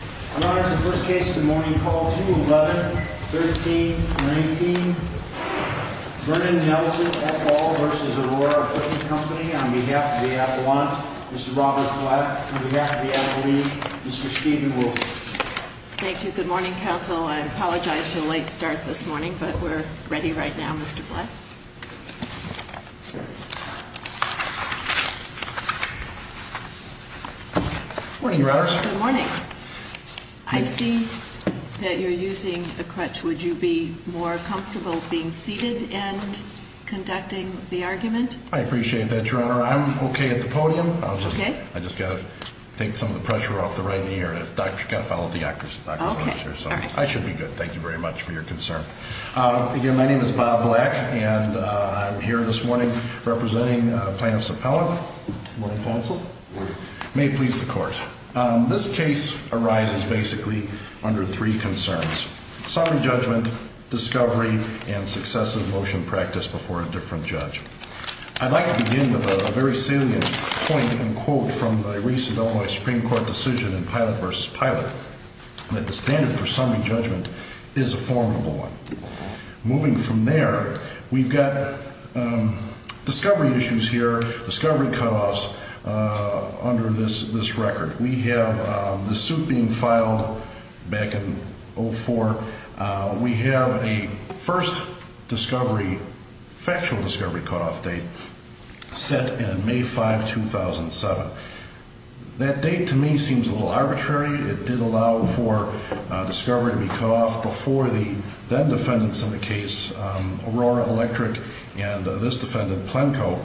I'm honored to first case this morning, call 2-11-13-19, Vernon Nelson et al. v. Aurora Equipment Co. On behalf of the appellant, Mr. Robert Blatt. On behalf of the athlete, Mr. Steven Wilson. Thank you. Good morning, counsel. I apologize for the late start this morning, but we're ready right now, Mr. Blatt. Good morning, your honors. Good morning. I see that you're using a crutch. Would you be more comfortable being seated and conducting the argument? I appreciate that, your honor. I'm okay at the podium. I just got to take some of the pressure off the right knee. I should be good. Thank you very much for your concern. Again, my name is Bob Blatt, and I'm here this morning representing plaintiff's appellant. Good morning, counsel. Good morning. May it please the court. This case arises basically under three concerns. Summary judgment, discovery, and successive motion practice before a different judge. I'd like to begin with a very salient point and quote from the recent Illinois Supreme Court decision in Pilot v. Pilot, that the standard for summary judgment is a formidable one. Moving from there, we've got discovery issues here, discovery cutoffs under this record. We have the suit being filed back in 04. We have a first discovery, factual discovery cutoff date set in May 5, 2007. That date, to me, seems a little arbitrary. It did allow for discovery to be cut off before the then-defendants in the case, Aurora Electric, and this defendant, Plenko,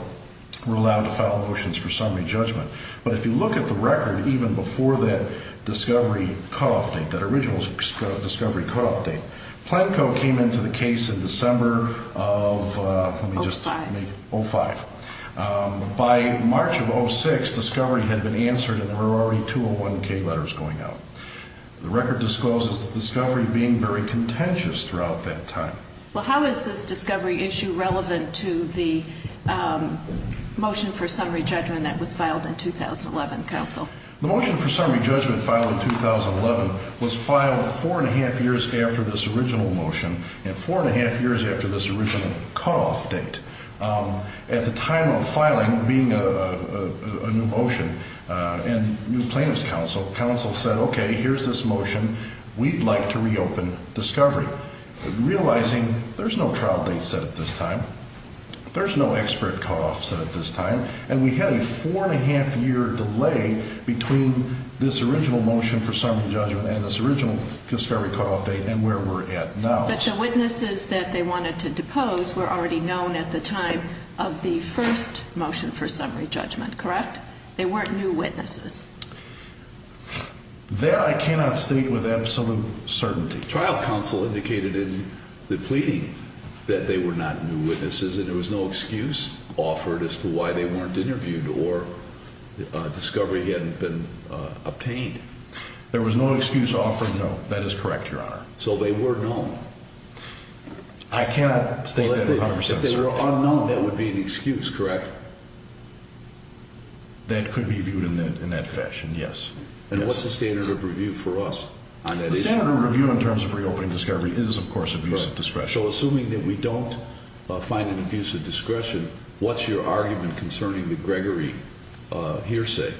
were allowed to file motions for summary judgment. But if you look at the record, even before that discovery cutoff date, that original discovery cutoff date, Plenko came into the case in December of 05. By March of 06, discovery had been answered, and there were already 201K letters going out. The record discloses the discovery being very contentious throughout that time. Well, how is this discovery issue relevant to the motion for summary judgment that was filed in 2011, counsel? The motion for summary judgment filed in 2011 was filed four and a half years after this original motion and four and a half years after this original cutoff date. At the time of filing, being a new motion and new plaintiff's counsel, counsel said, okay, here's this motion. We'd like to reopen discovery, realizing there's no trial date set at this time. There's no expert cutoff set at this time, and we had a four and a half year delay between this original motion for summary judgment and this original discovery cutoff date and where we're at now. But the witnesses that they wanted to depose were already known at the time of the first motion for summary judgment, correct? They weren't new witnesses. There, I cannot state with absolute certainty. Trial counsel indicated in the pleading that they were not new witnesses, and there was no excuse offered as to why they weren't interviewed or discovery hadn't been obtained. There was no excuse offered, no. That is correct, Your Honor. So they were known. I cannot state that 100%. If they were unknown, that would be an excuse, correct? That could be viewed in that fashion, yes. And what's the standard of review for us on that issue? The standard of review in terms of reopening discovery is, of course, abuse of discretion. So assuming that we don't find an abuse of discretion, what's your argument concerning the Gregory hearsay?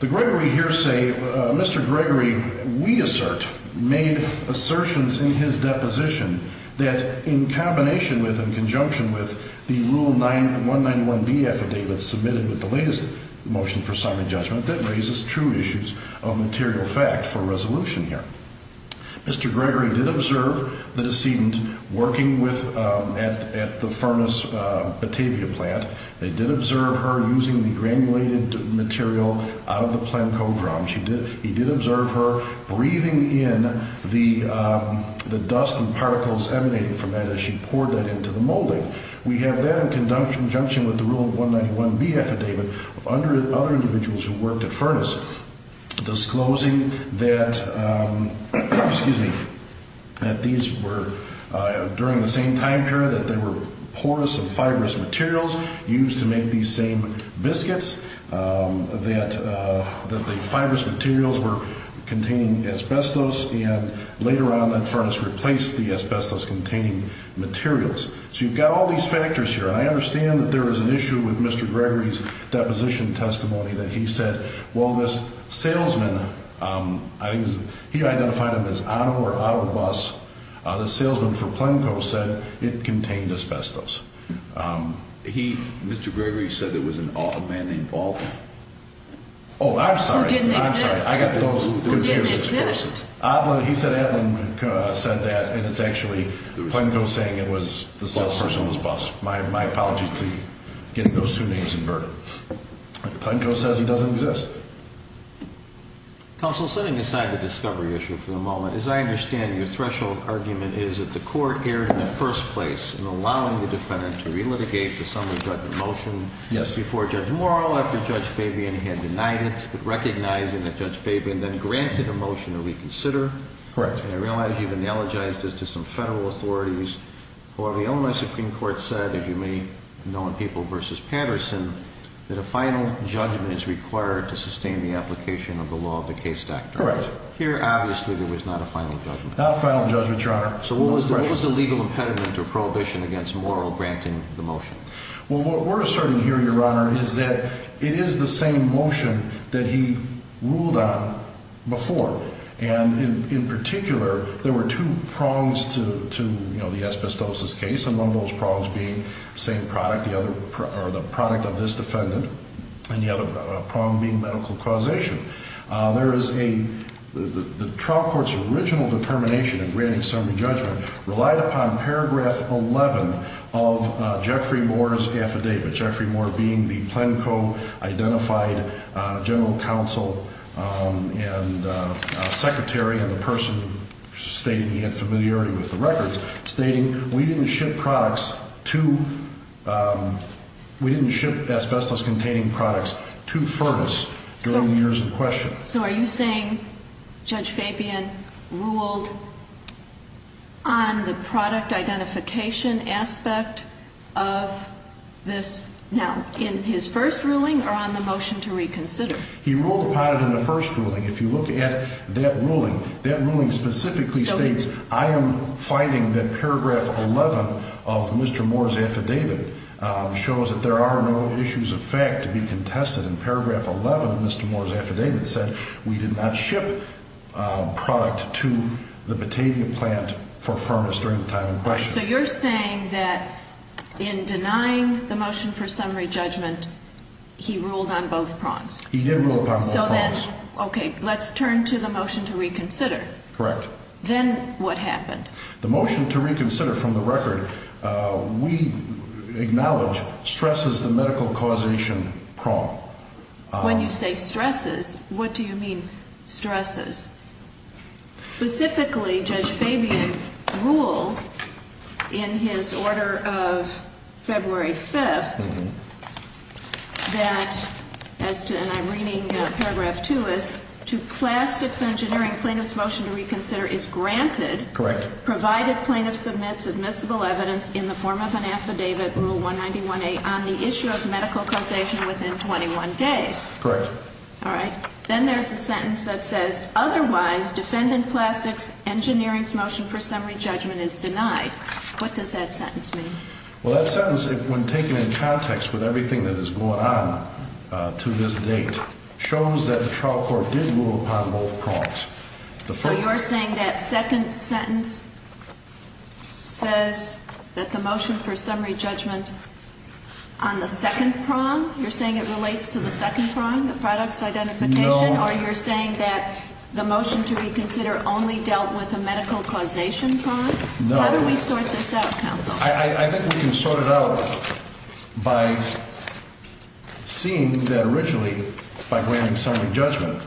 The Gregory hearsay, Mr. Gregory, we assert, made assertions in his deposition that in combination with and in conjunction with the Rule 191B affidavit submitted with the latest motion for summary judgment, that raises true issues of material fact for resolution here. Mr. Gregory did observe the decedent working with, at the furnace Batavia plant. They did observe her using the granulated material out of the plankodrom. He did observe her breathing in the dust and particles emanating from that as she poured that into the molding. We have that in conjunction with the Rule 191B affidavit under other individuals who worked at furnaces, disclosing that, excuse me, that these were, during the same time period, that they were porous and fibrous materials used to make these same biscuits. That the fibrous materials were containing asbestos, and later on that furnace replaced the asbestos-containing materials. So you've got all these factors here, and I understand that there is an issue with Mr. Gregory's deposition testimony that he said, well, this salesman, he identified him as Otto or Otto Bus. The salesman for Plenco said it contained asbestos. He, Mr. Gregory, said it was a man named Baldwin. Oh, I'm sorry. Who didn't exist. I got those. Who didn't exist. He said Adlin said that, and it's actually Plenco saying it was the salesperson was Bus. My apologies to getting those two names inverted. Plenco says he doesn't exist. Counsel, setting aside the discovery issue for the moment, as I understand, your threshold argument is that the court erred in the first place in allowing the defendant to relitigate the summary judgment motion before Judge Morrow, after Judge Fabian had denied it, recognizing that Judge Fabian then granted a motion to re-examine the discovery. Correct. And I realize you've analogized this to some federal authorities. However, the Illinois Supreme Court said, as you may know in People v. Patterson, that a final judgment is required to sustain the application of the law of the case doctrine. Correct. Here, obviously, there was not a final judgment. Not a final judgment, Your Honor. So what was the legal impediment or prohibition against Morrow granting the motion? Well, what we're asserting here, Your Honor, is that it is the same motion that he ruled on before. And in particular, there were two prongs to the asbestosis case, and one of those prongs being the same product, or the product of this defendant, and the other prong being medical causation. There is a – the trial court's original determination in granting summary judgment relied upon paragraph 11 of Jeffrey Moore's affidavit, Jeffrey Moore being the Plenco-identified general counsel and secretary and the person stating he had familiarity with the records, stating we didn't ship products to – we didn't ship asbestos-containing products to furnace during the years in question. So are you saying Judge Fabian ruled on the product identification aspect of this now, in his first ruling or on the motion to reconsider? He ruled upon it in the first ruling. If you look at that ruling, that ruling specifically states, I am finding that paragraph 11 of Mr. Moore's affidavit shows that there are no issues of fact to be contested. And paragraph 11 of Mr. Moore's affidavit said we did not ship product to the Batavia plant for furnace during the time in question. So you're saying that in denying the motion for summary judgment, he ruled on both prongs? He did rule upon both prongs. So then, okay, let's turn to the motion to reconsider. Correct. Then what happened? The motion to reconsider from the record, we acknowledge stresses the medical causation prong. When you say stresses, what do you mean stresses? Specifically, Judge Fabian ruled in his order of February 5th that, and I'm reading paragraph 2, is to plastics engineering, plaintiff's motion to reconsider is granted. Correct. Provided plaintiff submits admissible evidence in the form of an affidavit, rule 191A, on the issue of medical causation within 21 days. Correct. All right. Then there's a sentence that says, otherwise, defendant plastics engineering's motion for summary judgment is denied. What does that sentence mean? Well, that sentence, when taken in context with everything that has gone on to this date, shows that the trial court did rule upon both prongs. So you're saying that second sentence says that the motion for summary judgment on the second prong, you're saying it relates to the second prong, the products identification? No. Or you're saying that the motion to reconsider only dealt with a medical causation prong? No. How do we sort this out, counsel? I think we can sort it out by seeing that originally, by granting summary judgment,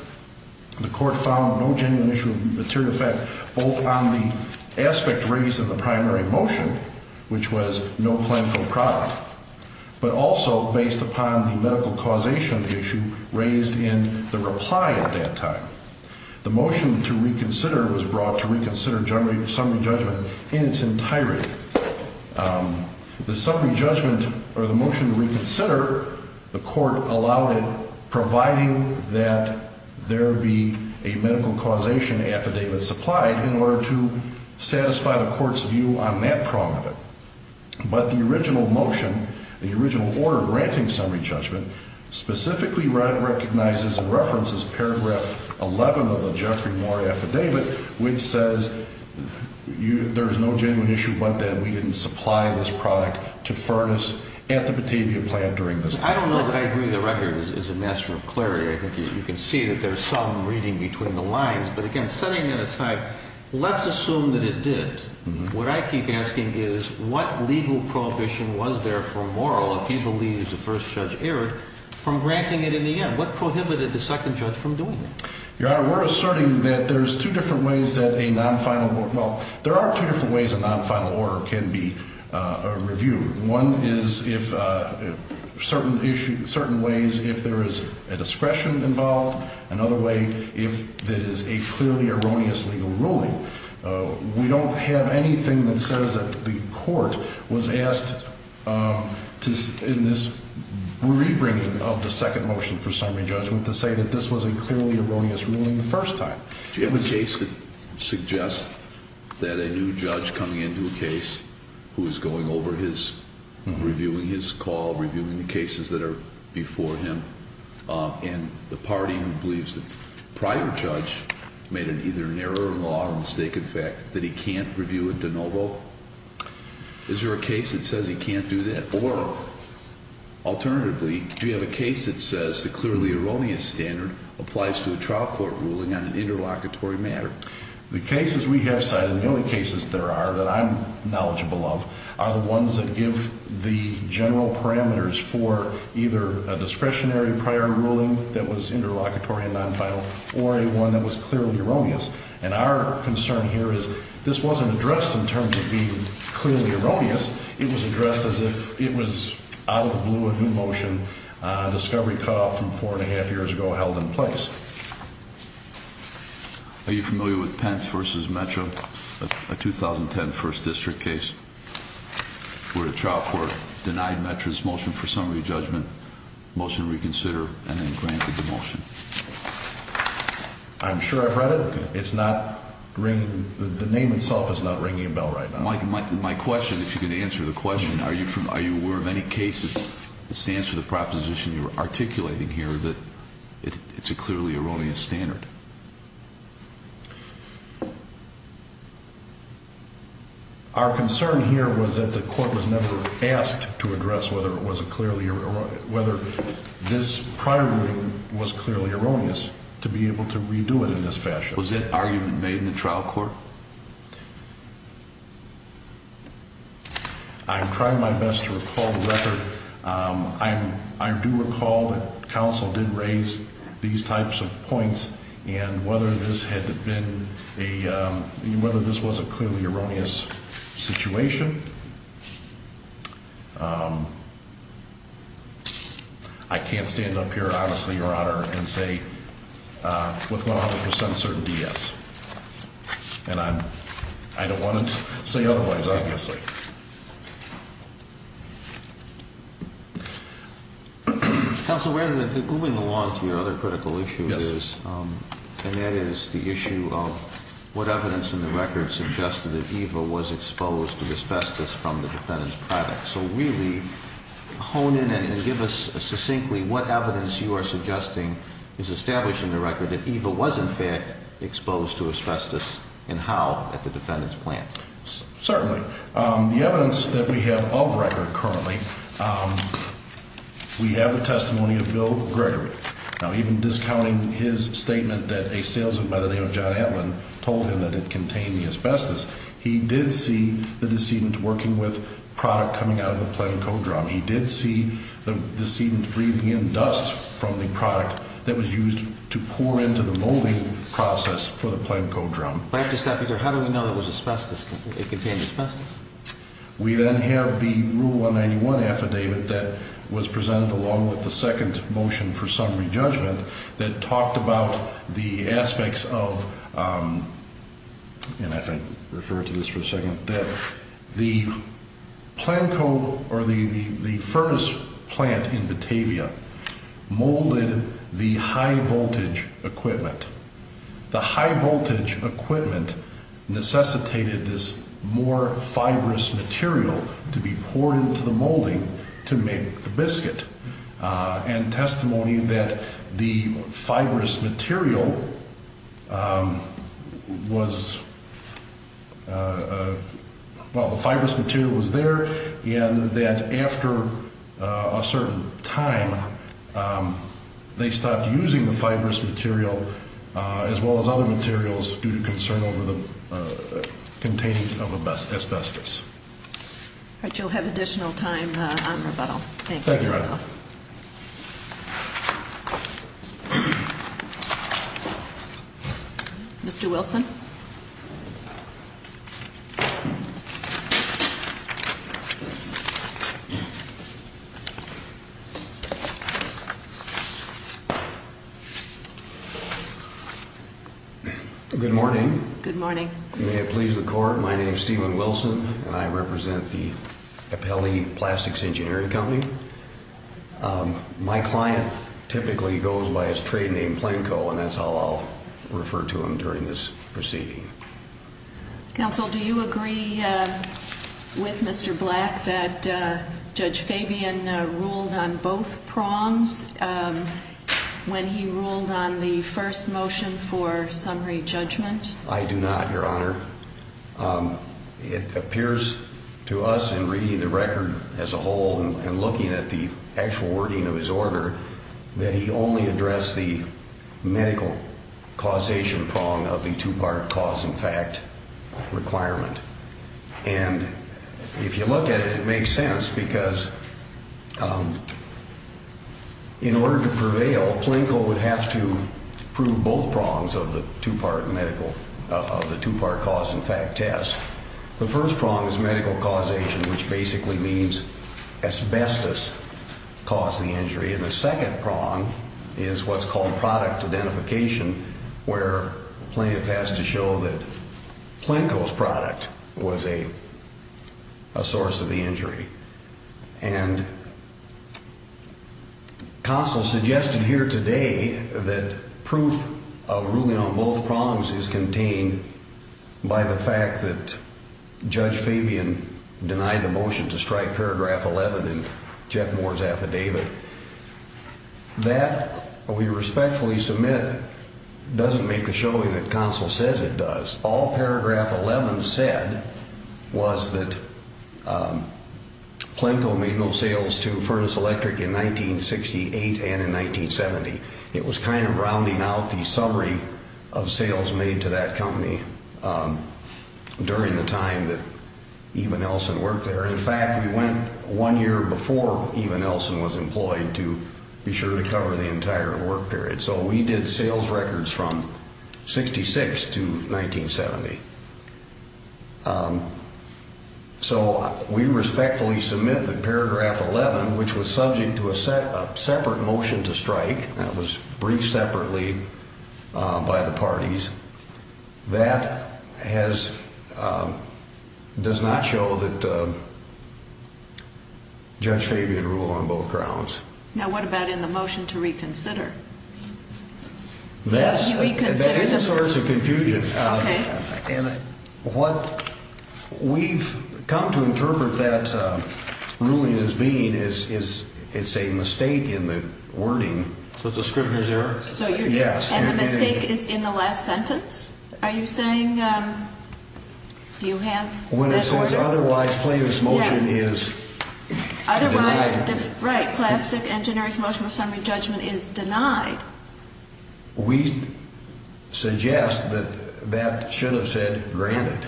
the court found no genuine issue of material effect, both on the aspect raised in the primary motion, which was no clinical product, but also based upon the medical causation issue raised in the reply at that time. The motion to reconsider was brought to reconsider summary judgment in its entirety. The summary judgment or the motion to reconsider, the court allowed it, providing that there be a medical causation affidavit supplied in order to satisfy the court's view on that prong of it. But the original motion, the original order granting summary judgment, specifically recognizes and references paragraph 11 of the Jeffrey Moore affidavit, which says there is no genuine issue but that we didn't supply this product to furnace at the Batavia plant during this time. I don't know that I agree the record is a matter of clarity. I think you can see that there's some reading between the lines. But again, setting that aside, let's assume that it did. What I keep asking is, what legal prohibition was there for Moore, if he believes the first judge erred, from granting it in the end? What prohibited the second judge from doing that? Your Honor, we're asserting that there's two different ways that a non-final, well, there are two different ways a non-final order can be reviewed. One is if certain ways, if there is a discretion involved. Another way, if there is a clearly erroneous legal ruling. We don't have anything that says that the court was asked in this re-bringing of the second motion for summary judgment to say that this was a clearly erroneous ruling the first time. Do you have a case that suggests that a new judge coming into a case who is going over his, reviewing his call, reviewing the cases that are before him, and the party who believes the prior judge made either an error in law or a mistake in fact, that he can't review it de novo? Is there a case that says he can't do that? Or, alternatively, do you have a case that says the clearly erroneous standard applies to a trial court ruling on an interlocutory matter? The cases we have cited, and the only cases there are that I'm knowledgeable of, are the ones that give the general parameters for either a discretionary prior ruling that was interlocutory and non-final, or a one that was clearly erroneous. And our concern here is this wasn't addressed in terms of being clearly erroneous. It was addressed as if it was out of the blue a new motion, a discovery cutoff from four and a half years ago held in place. Are you familiar with Pence v. Metro, a 2010 first district case where the trial court denied Metro's motion for summary judgment, motion to reconsider, and then granted the motion? I'm sure I've read it. It's not ringing, the name itself is not ringing a bell right now. My question, if you can answer the question, are you aware of any cases that stands for the proposition you're articulating here that it's a clearly erroneous standard? Our concern here was that the court was never asked to address whether this prior ruling was clearly erroneous to be able to redo it in this fashion. Was that argument made in the trial court? I'm trying my best to recall the record. I do recall that counsel did raise these types of points and whether this was a clearly erroneous situation. I can't stand up here, honestly, your honor, and say with 100% certainty yes. And I don't want to say otherwise, obviously. Counsel, moving along to your other critical issue, and that is the issue of what evidence in the record suggested that Eva was exposed to asbestos from the defendant's product. So really hone in and give us succinctly what evidence you are suggesting is established in the record that Eva was in fact exposed to asbestos and how at the defendant's plant. Certainly. The evidence that we have of record currently, we have the testimony of Bill Gregory. Now, even discounting his statement that a salesman by the name of John Atlin told him that it contained the asbestos, he did see the decedent working with product coming out of the plant code drum. He did see the decedent breathing in dust from the product that was used to pour into the molding process for the plant code drum. But I have to stop you there. How do we know it was asbestos, that it contained asbestos? We then have the Rule 191 affidavit that was presented along with the second motion for summary judgment that talked about the aspects of, and I think I'll refer to this for a second, that the plant code or the furnace plant in Batavia molded the high voltage equipment. The high voltage equipment necessitated this more fibrous material to be poured into the molding to make the biscuit. And testimony that the fibrous material was, well, the fibrous material was there and that after a certain time, they stopped using the fibrous material as well as other materials due to concern over the containing of asbestos. All right, you'll have additional time on rebuttal. Thank you. Mr. Wilson. Good morning. Good morning. May it please the court, my name is Stephen Wilson and I represent the Capelli Plastics Engineering Company. My client typically goes by his trade name Planco and that's how I'll refer to him during this proceeding. Counsel, do you agree with Mr. Black that Judge Fabian ruled on both proms when he ruled on the first motion for summary judgment? I do not, Your Honor. It appears to us in reading the record as a whole and looking at the actual wording of his order that he only addressed the medical causation prong of the two-part cause and fact requirement. And if you look at it, it makes sense because in order to prevail, Planco would have to prove both prongs of the two-part medical, of the two-part cause and fact test. The first prong is medical causation, which basically means asbestos caused the injury. And the second prong is what's called product identification, where Plano has to show that Planco's product was a source of the injury. And counsel suggested here today that proof of ruling on both prongs is contained by the fact that Judge Fabian denied the motion to strike paragraph 11 in Jeff Moore's affidavit. That, we respectfully submit, doesn't make a showing that counsel says it does. All paragraph 11 said was that Planco made no sales to Furnace Electric in 1968 and in 1970. It was kind of rounding out the summary of sales made to that company during the time that Eva Nelson worked there. In fact, we went one year before Eva Nelson was employed to be sure to cover the entire work period. So we did sales records from 1966 to 1970. So we respectfully submit that paragraph 11, which was subject to a separate motion to strike, that was briefed separately by the parties, that does not show that Judge Fabian ruled on both grounds. Now what about in the motion to reconsider? That is a source of confusion. Okay. And what we've come to interpret that ruling as being is it's a mistake in the wording. So it's a scrivener's error? Yes. And the mistake is in the last sentence? Are you saying, do you have that order? When it says otherwise Plano's motion is denied. Right. Plastic engineering's motion of summary judgment is denied. We suggest that that should have said granted.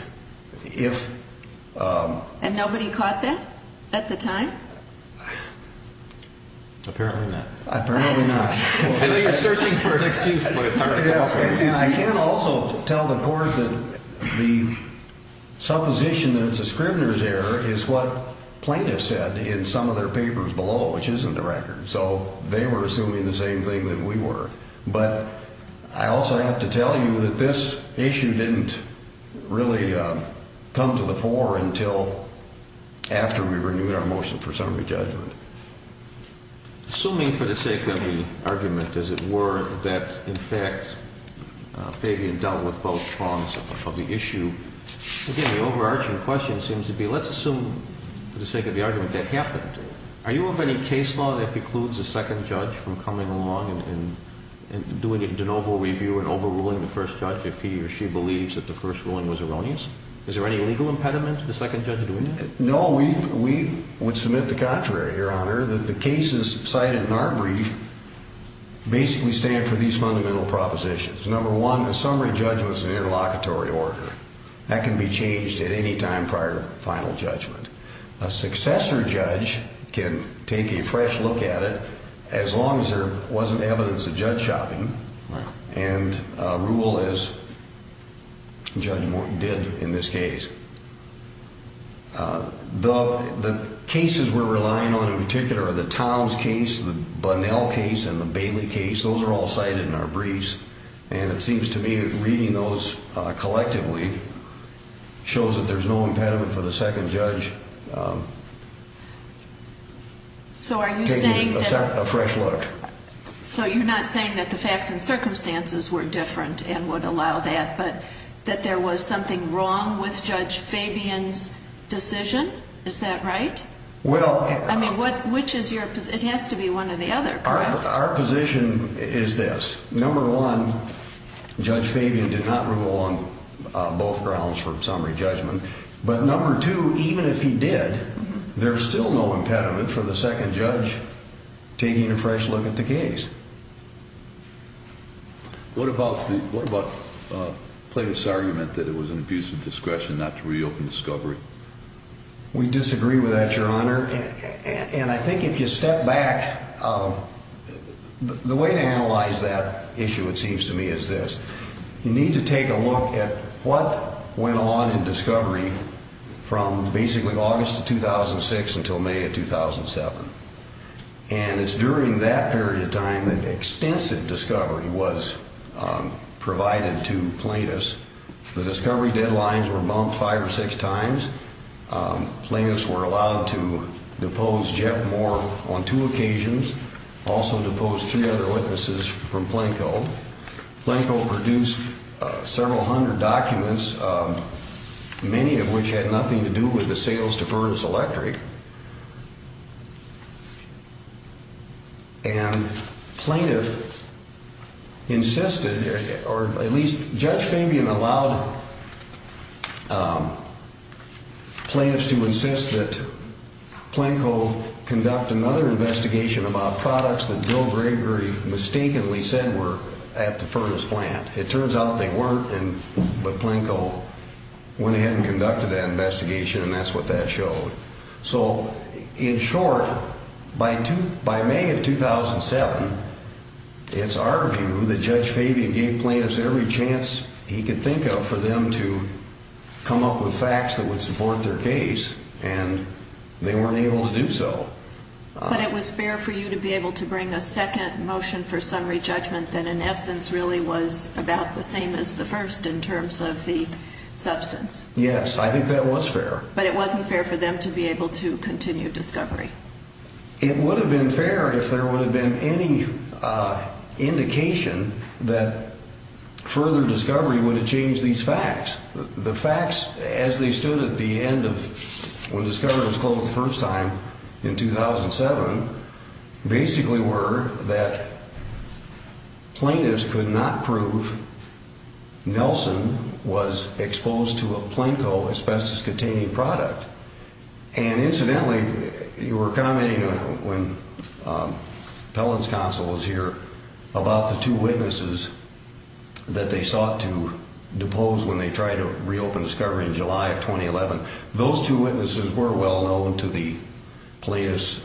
And nobody caught that at the time? Apparently not. Apparently not. I know you're searching for an excuse. And I can also tell the court that the supposition that it's a scrivener's error is what Plano said in some of their papers below, which isn't a record. So they were assuming the same thing that we were. But I also have to tell you that this issue didn't really come to the fore until after we renewed our motion for summary judgment. Assuming for the sake of the argument, as it were, that, in fact, Fabian dealt with both prongs of the issue, again, the overarching question seems to be, let's assume for the sake of the argument that happened. Are you of any case law that precludes a second judge from coming along and doing a de novo review and overruling the first judge if he or she believes that the first ruling was erroneous? Is there any legal impediment to the second judge doing that? No, we would submit the contrary, Your Honor, that the cases cited in our brief basically stand for these fundamental propositions. Number one, a summary judgment is an interlocutory order. That can be changed at any time prior to final judgment. A successor judge can take a fresh look at it as long as there wasn't evidence of judge shopping and rule as Judge Morton did in this case. The cases we're relying on in particular are the Towns case, the Bunnell case, and the Bailey case. Those are all cited in our briefs, and it seems to me that reading those collectively shows that there's no impediment for the second judge taking a fresh look. So you're not saying that the facts and circumstances were different and would allow that, but that there was something wrong with Judge Fabian's decision? Is that right? I mean, which is your position? It has to be one or the other, correct? Our position is this. Number one, Judge Fabian did not rule on both grounds for summary judgment. But number two, even if he did, there's still no impediment for the second judge taking a fresh look at the case. What about Plato's argument that it was an abuse of discretion not to reopen discovery? We disagree with that, Your Honor. And I think if you step back, the way to analyze that issue, it seems to me, is this. You need to take a look at what went on in discovery from basically August of 2006 until May of 2007. And it's during that period of time that extensive discovery was provided to Plaintiffs. The discovery deadlines were bumped five or six times. Plaintiffs were allowed to depose Jeff Moore on two occasions, also depose three other witnesses from Planko. Planko produced several hundred documents, many of which had nothing to do with the sales to Furnace Electric. And Planko insisted, or at least Judge Fabian allowed plaintiffs to insist that Planko conduct another investigation about products that Bill Gregory mistakenly said were at the Furnace plant. It turns out they weren't, but Planko went ahead and conducted that investigation, and that's what that showed. So, in short, by May of 2007, it's our view that Judge Fabian gave plaintiffs every chance he could think of for them to come up with facts that would support their case, and they weren't able to do so. But it was fair for you to be able to bring a second motion for summary judgment that, in essence, really was about the same as the first in terms of the substance. Yes, I think that was fair. But it wasn't fair for them to be able to continue discovery. It would have been fair if there would have been any indication that further discovery would have changed these facts. The facts, as they stood at the end of when discovery was closed the first time in 2007, basically were that plaintiffs could not prove Nelson was exposed to a Planko asbestos-containing product. And incidentally, you were commenting when Appellant's counsel was here about the two witnesses that they sought to depose when they tried to reopen discovery in July of 2011. Those two witnesses were well known to the plaintiffs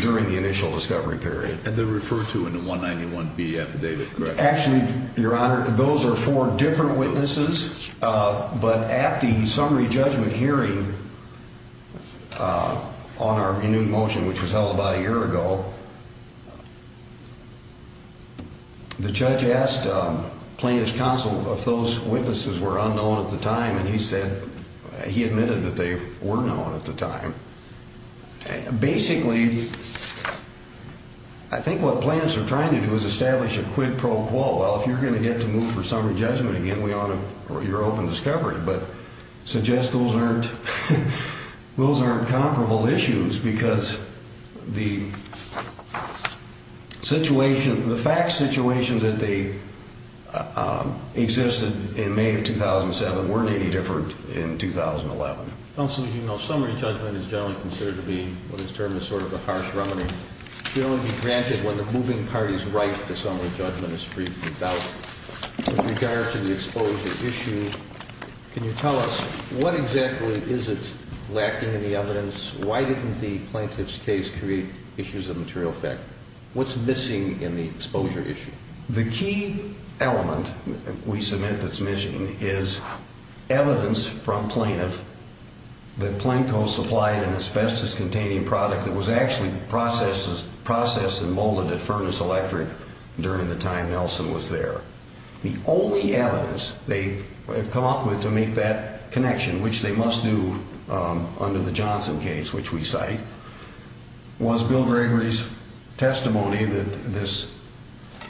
during the initial discovery period. And they're referred to in the 191B affidavit, correct? Actually, Your Honor, those are four different witnesses. But at the summary judgment hearing on our renewed motion, which was held about a year ago, the judge asked plaintiff's counsel if those witnesses were unknown at the time. And he admitted that they were known at the time. Basically, I think what plaintiffs are trying to do is establish a quid pro quo. Well, if you're going to get to move for summary judgment again, we honor your open discovery. But suggest those aren't comparable issues because the situation, the fact situations that they existed in May of 2007 weren't any different in 2011. Counsel, as you know, summary judgment is generally considered to be what is termed as sort of a harsh remedy. We only be granted when the moving party's right to summary judgment is freed from doubt. With regard to the exposure issue, can you tell us what exactly is it lacking in the evidence? Why didn't the plaintiff's case create issues of material effect? What's missing in the exposure issue? The key element we submit that's missing is evidence from plaintiff that Planko supplied an asbestos-containing product that was actually processed and molded at Furnace Electric during the time Nelson was there. The only evidence they have come up with to make that connection, which they must do under the Johnson case, which we cite, was Bill Gregory's testimony that this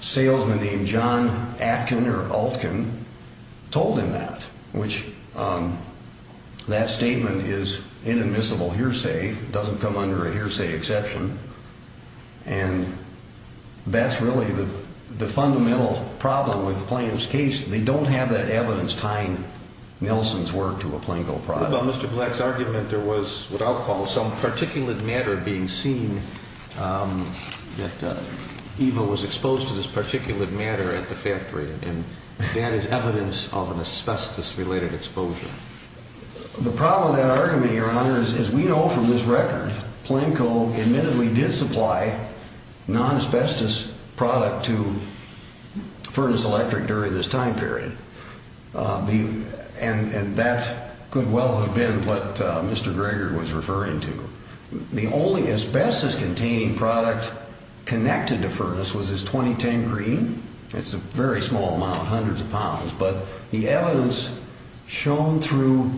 salesman named John Atkin or Altkin told him that. That statement is inadmissible hearsay. It doesn't come under a hearsay exception. And that's really the fundamental problem with the plaintiff's case. They don't have that evidence tying Nelson's work to a Planko product. In Mr. Black's argument, there was what I'll call some particulate matter being seen that Evo was exposed to this particulate matter at the factory. And that is evidence of an asbestos-related exposure. The problem with that argument, Your Honor, is we know from this record Planko admittedly did supply non-asbestos product to Furnace Electric during this time period. And that could well have been what Mr. Gregory was referring to. The only asbestos-containing product connected to Furnace was this 2010 green. It's a very small amount, hundreds of pounds. But the evidence shown through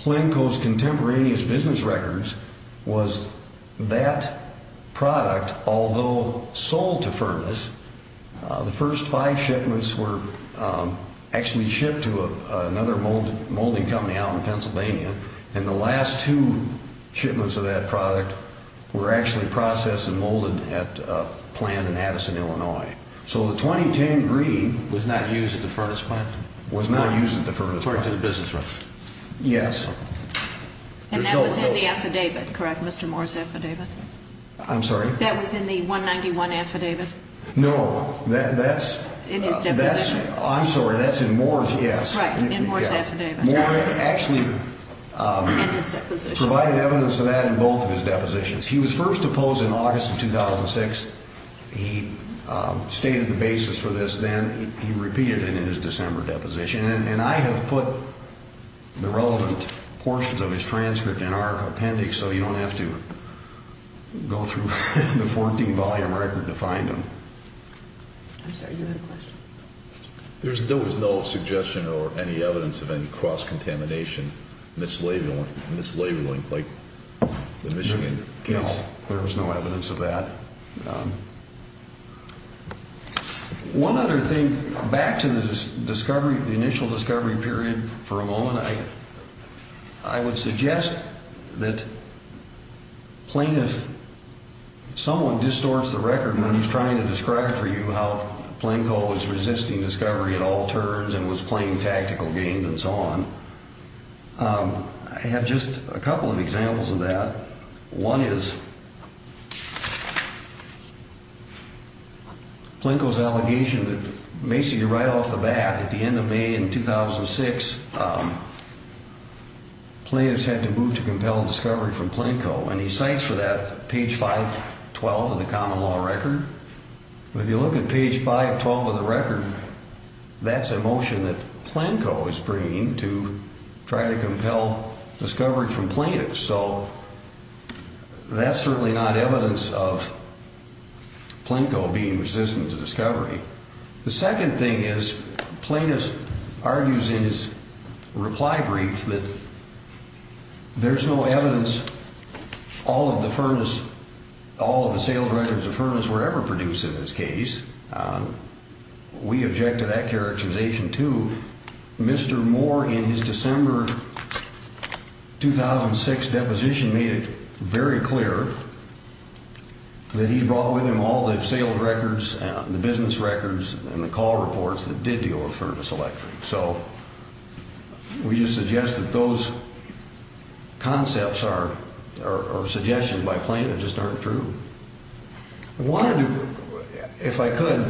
Planko's contemporaneous business records was that product, although sold to Furnace, the first five shipments were actually shipped to another molding company out in Pennsylvania. And the last two shipments of that product were actually processed and molded at a plant in Addison, Illinois. So the 2010 green was not used at the Furnace plant? Was not used at the Furnace plant. To the business record? Yes. And that was in the affidavit, correct, Mr. Moore's affidavit? I'm sorry? That was in the 191 affidavit? No. In his deposition? I'm sorry, that's in Moore's, yes. Right, in Moore's affidavit. Moore actually provided evidence of that in both of his depositions. He was first opposed in August of 2006. He stated the basis for this. Then he repeated it in his December deposition. And I have put the relevant portions of his transcript in our appendix so you don't have to go through the 14-volume record to find them. I'm sorry, you had a question? There was no suggestion or any evidence of any cross-contamination, mislabeling, like the Michigan case. No, there was no evidence of that. One other thing, back to the discovery, the initial discovery period for a moment. I would suggest that plaintiff, someone distorts the record when he's trying to describe for you how Plinko is resisting discovery at all turns and was playing tactical games and so on. I have just a couple of examples of that. One is Plinko's allegation that basically right off the bat at the end of May in 2006, plaintiffs had to move to compel discovery from Plinko. And he cites for that page 512 of the common law record. If you look at page 512 of the record, that's a motion that Plinko is bringing to try to compel discovery from plaintiffs. So that's certainly not evidence of Plinko being resistant to discovery. The second thing is plaintiff argues in his reply brief that there's no evidence all of the sales records of Furnace were ever produced in this case. We object to that characterization, too. Mr. Moore, in his December 2006 deposition, made it very clear that he brought with him all the sales records, the business records, and the call reports that did deal with Furnace Electric. So we just suggest that those concepts are suggestions by plaintiff that just aren't true. I wanted to, if I could,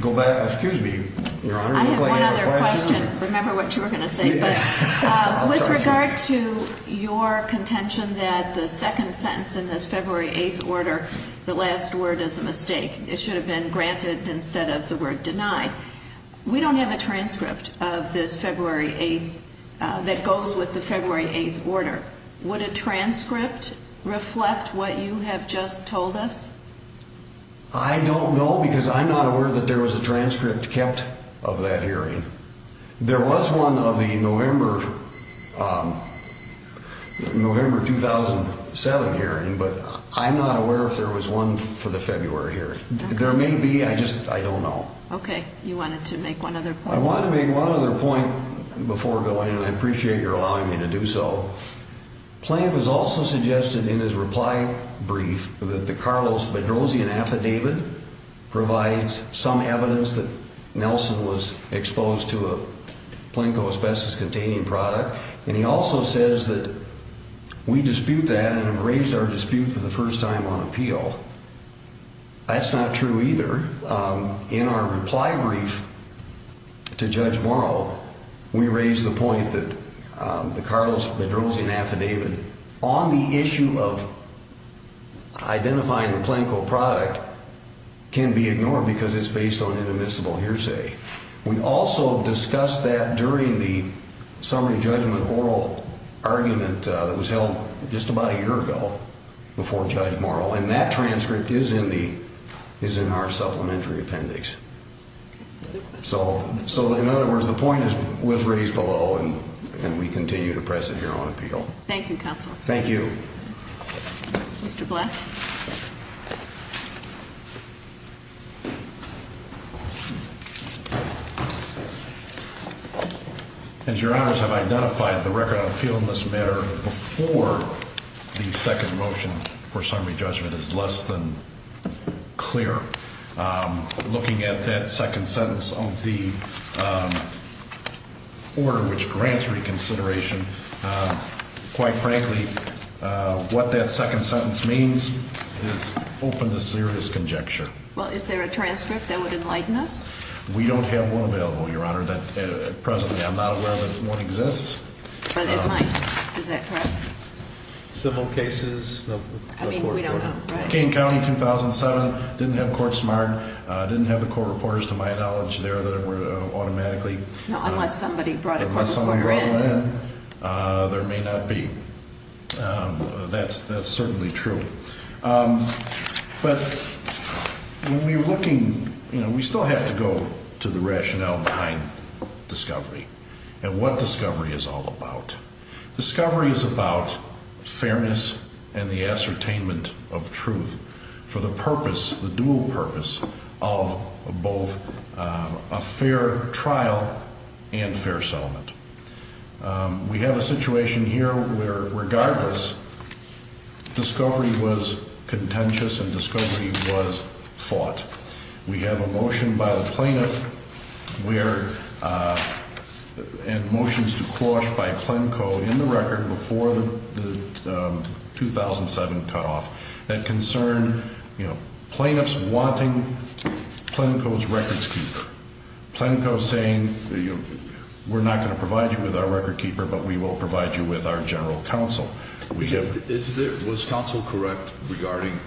go back. Excuse me, Your Honor. I have one other question. Remember what you were going to say. With regard to your contention that the second sentence in this February 8th order, the last word is a mistake. It should have been granted instead of the word denied. We don't have a transcript of this February 8th that goes with the February 8th order. Would a transcript reflect what you have just told us? I don't know because I'm not aware that there was a transcript kept of that hearing. There was one of the November 2007 hearing, but I'm not aware if there was one for the February hearing. There may be. I just don't know. Okay. You wanted to make one other point. I wanted to make one other point before going, and I appreciate your allowing me to do so. Plaintiff has also suggested in his reply brief that the Carlos Bedrosian affidavit provides some evidence that Nelson was exposed to a Plinko asbestos-containing product, and he also says that we dispute that and have raised our dispute for the first time on appeal. That's not true either. In our reply brief to Judge Morrow, we raised the point that the Carlos Bedrosian affidavit on the issue of identifying the Plinko product can be ignored because it's based on an admissible hearsay. We also discussed that during the summary judgment oral argument that was held just about a year ago before Judge Morrow, and that transcript is in our supplementary appendix. So, in other words, the point is we've raised below, and we continue to press it here on appeal. Thank you, counsel. Thank you. Mr. Black. As your honors have identified, the record on appeal in this matter before the second motion for summary judgment is less than clear. Looking at that second sentence of the order which grants reconsideration, quite frankly, what that second sentence means is open to serious conjecture. Well, is there a transcript that would enlighten us? We don't have one available, your honor, at present. I'm not aware that one exists. But it might. Is that correct? Civil cases? I mean, we don't know, right? Kane County, 2007, didn't have court smart, didn't have the court reporters, to my knowledge, there that were automatically. Unless somebody brought a court reporter in. Unless somebody brought one in, there may not be. That's certainly true. But when we're looking, you know, we still have to go to the rationale behind discovery and what discovery is all about. Discovery is about fairness and the ascertainment of truth for the purpose, the dual purpose, of both a fair trial and fair settlement. We have a situation here where, regardless, discovery was contentious and discovery was fought. We have a motion by the plaintiff and motions to quash by Plenco in the record before the 2007 cutoff that concern, you know, plaintiffs wanting Plenco's records keeper. Plenco saying, you know, we're not going to provide you with our record keeper, but we will provide you with our general counsel. Was counsel correct regarding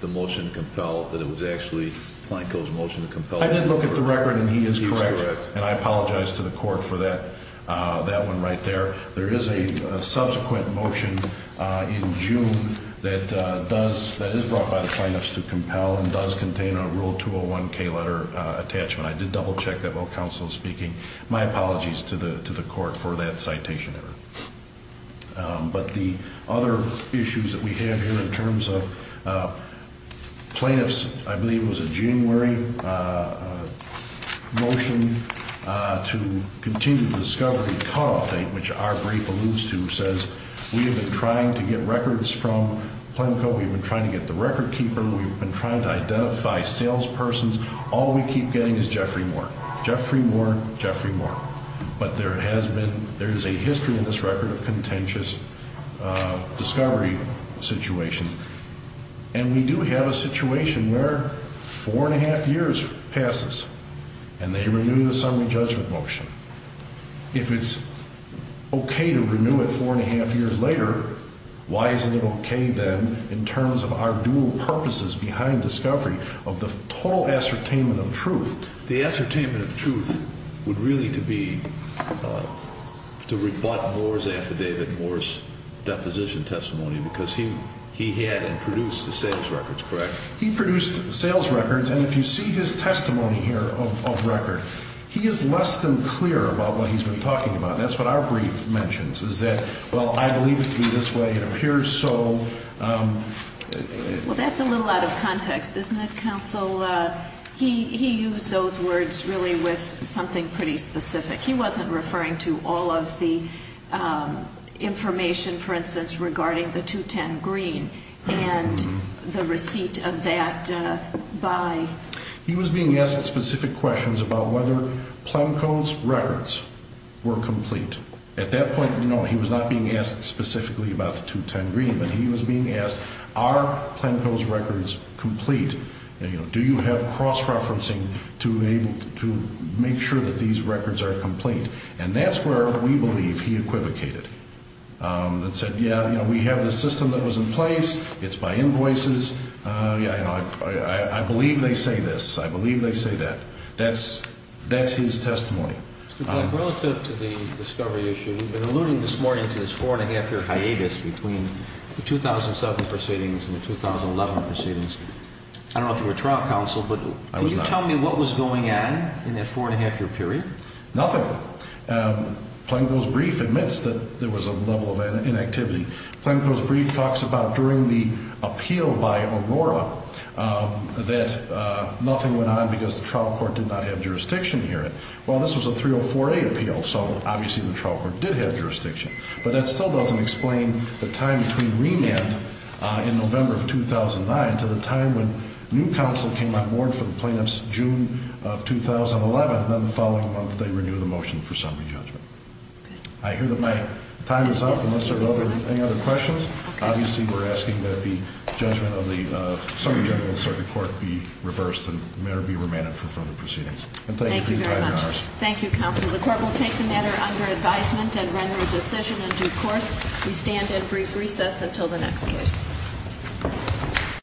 the motion to compel that it was actually Plenco's motion to compel? I did look at the record and he is correct. And I apologize to the court for that one right there. There is a subsequent motion in June that does, that is brought by the plaintiffs to compel and does contain a Rule 201-K letter attachment. I did double check that while counsel was speaking. My apologies to the court for that citation error. But the other issues that we have here in terms of plaintiffs, I believe it was a January motion to continue the discovery cutoff date, which our brief alludes to, says, we have been trying to get records from Plenco. We've been trying to get the record keeper. We've been trying to identify salespersons. All we keep getting is Jeffrey Moore, Jeffrey Moore, Jeffrey Moore. But there has been, there is a history in this record of contentious discovery situations. And we do have a situation where four and a half years passes and they renew the summary judgment motion. If it's okay to renew it four and a half years later, why isn't it okay then in terms of our dual purposes behind discovery of the total ascertainment of truth? The ascertainment of truth would really to be to rebut Moore's affidavit, Moore's deposition testimony, because he had and produced the sales records, correct? He produced sales records. And if you see his testimony here of record, he is less than clear about what he's been talking about. That's what our brief mentions, is that, well, I believe it to be this way. It appears so. Well, that's a little out of context, isn't it, counsel? He used those words really with something pretty specific. He wasn't referring to all of the information, for instance, regarding the 210 Green and the receipt of that buy. He was being asked specific questions about whether Plenko's records were complete. At that point, no, he was not being asked specifically about the 210 Green, but he was being asked, are Plenko's records complete? Do you have cross-referencing to make sure that these records are complete? And that's where we believe he equivocated and said, yeah, we have this system that was in place. It's by invoices. Yeah, I believe they say this. I believe they say that. That's his testimony. Mr. Blank, relative to the discovery issue, we've been alluding this morning to this four-and-a-half-year hiatus between the 2007 proceedings and the 2011 proceedings. I don't know if you were trial counsel, but can you tell me what was going on in that four-and-a-half-year period? Nothing. Plenko's brief admits that there was a level of inactivity. Plenko's brief talks about during the appeal by Aurora that nothing went on because the trial court did not have jurisdiction here. Well, this was a 304A appeal, so obviously the trial court did have jurisdiction. But that still doesn't explain the time between remand in November of 2009 to the time when new counsel came on board for the plaintiffs June of 2011, and then the following month they renewed the motion for summary judgment. I hear that my time is up unless there are any other questions. Obviously, we're asking that the judgment of the summary general in the circuit court be reversed and may be remanded for further proceedings. And thank you for your time and hours. Thank you very much. Thank you, counsel. The court will take the matter under advisement and render a decision in due course. We stand in brief recess until the next case.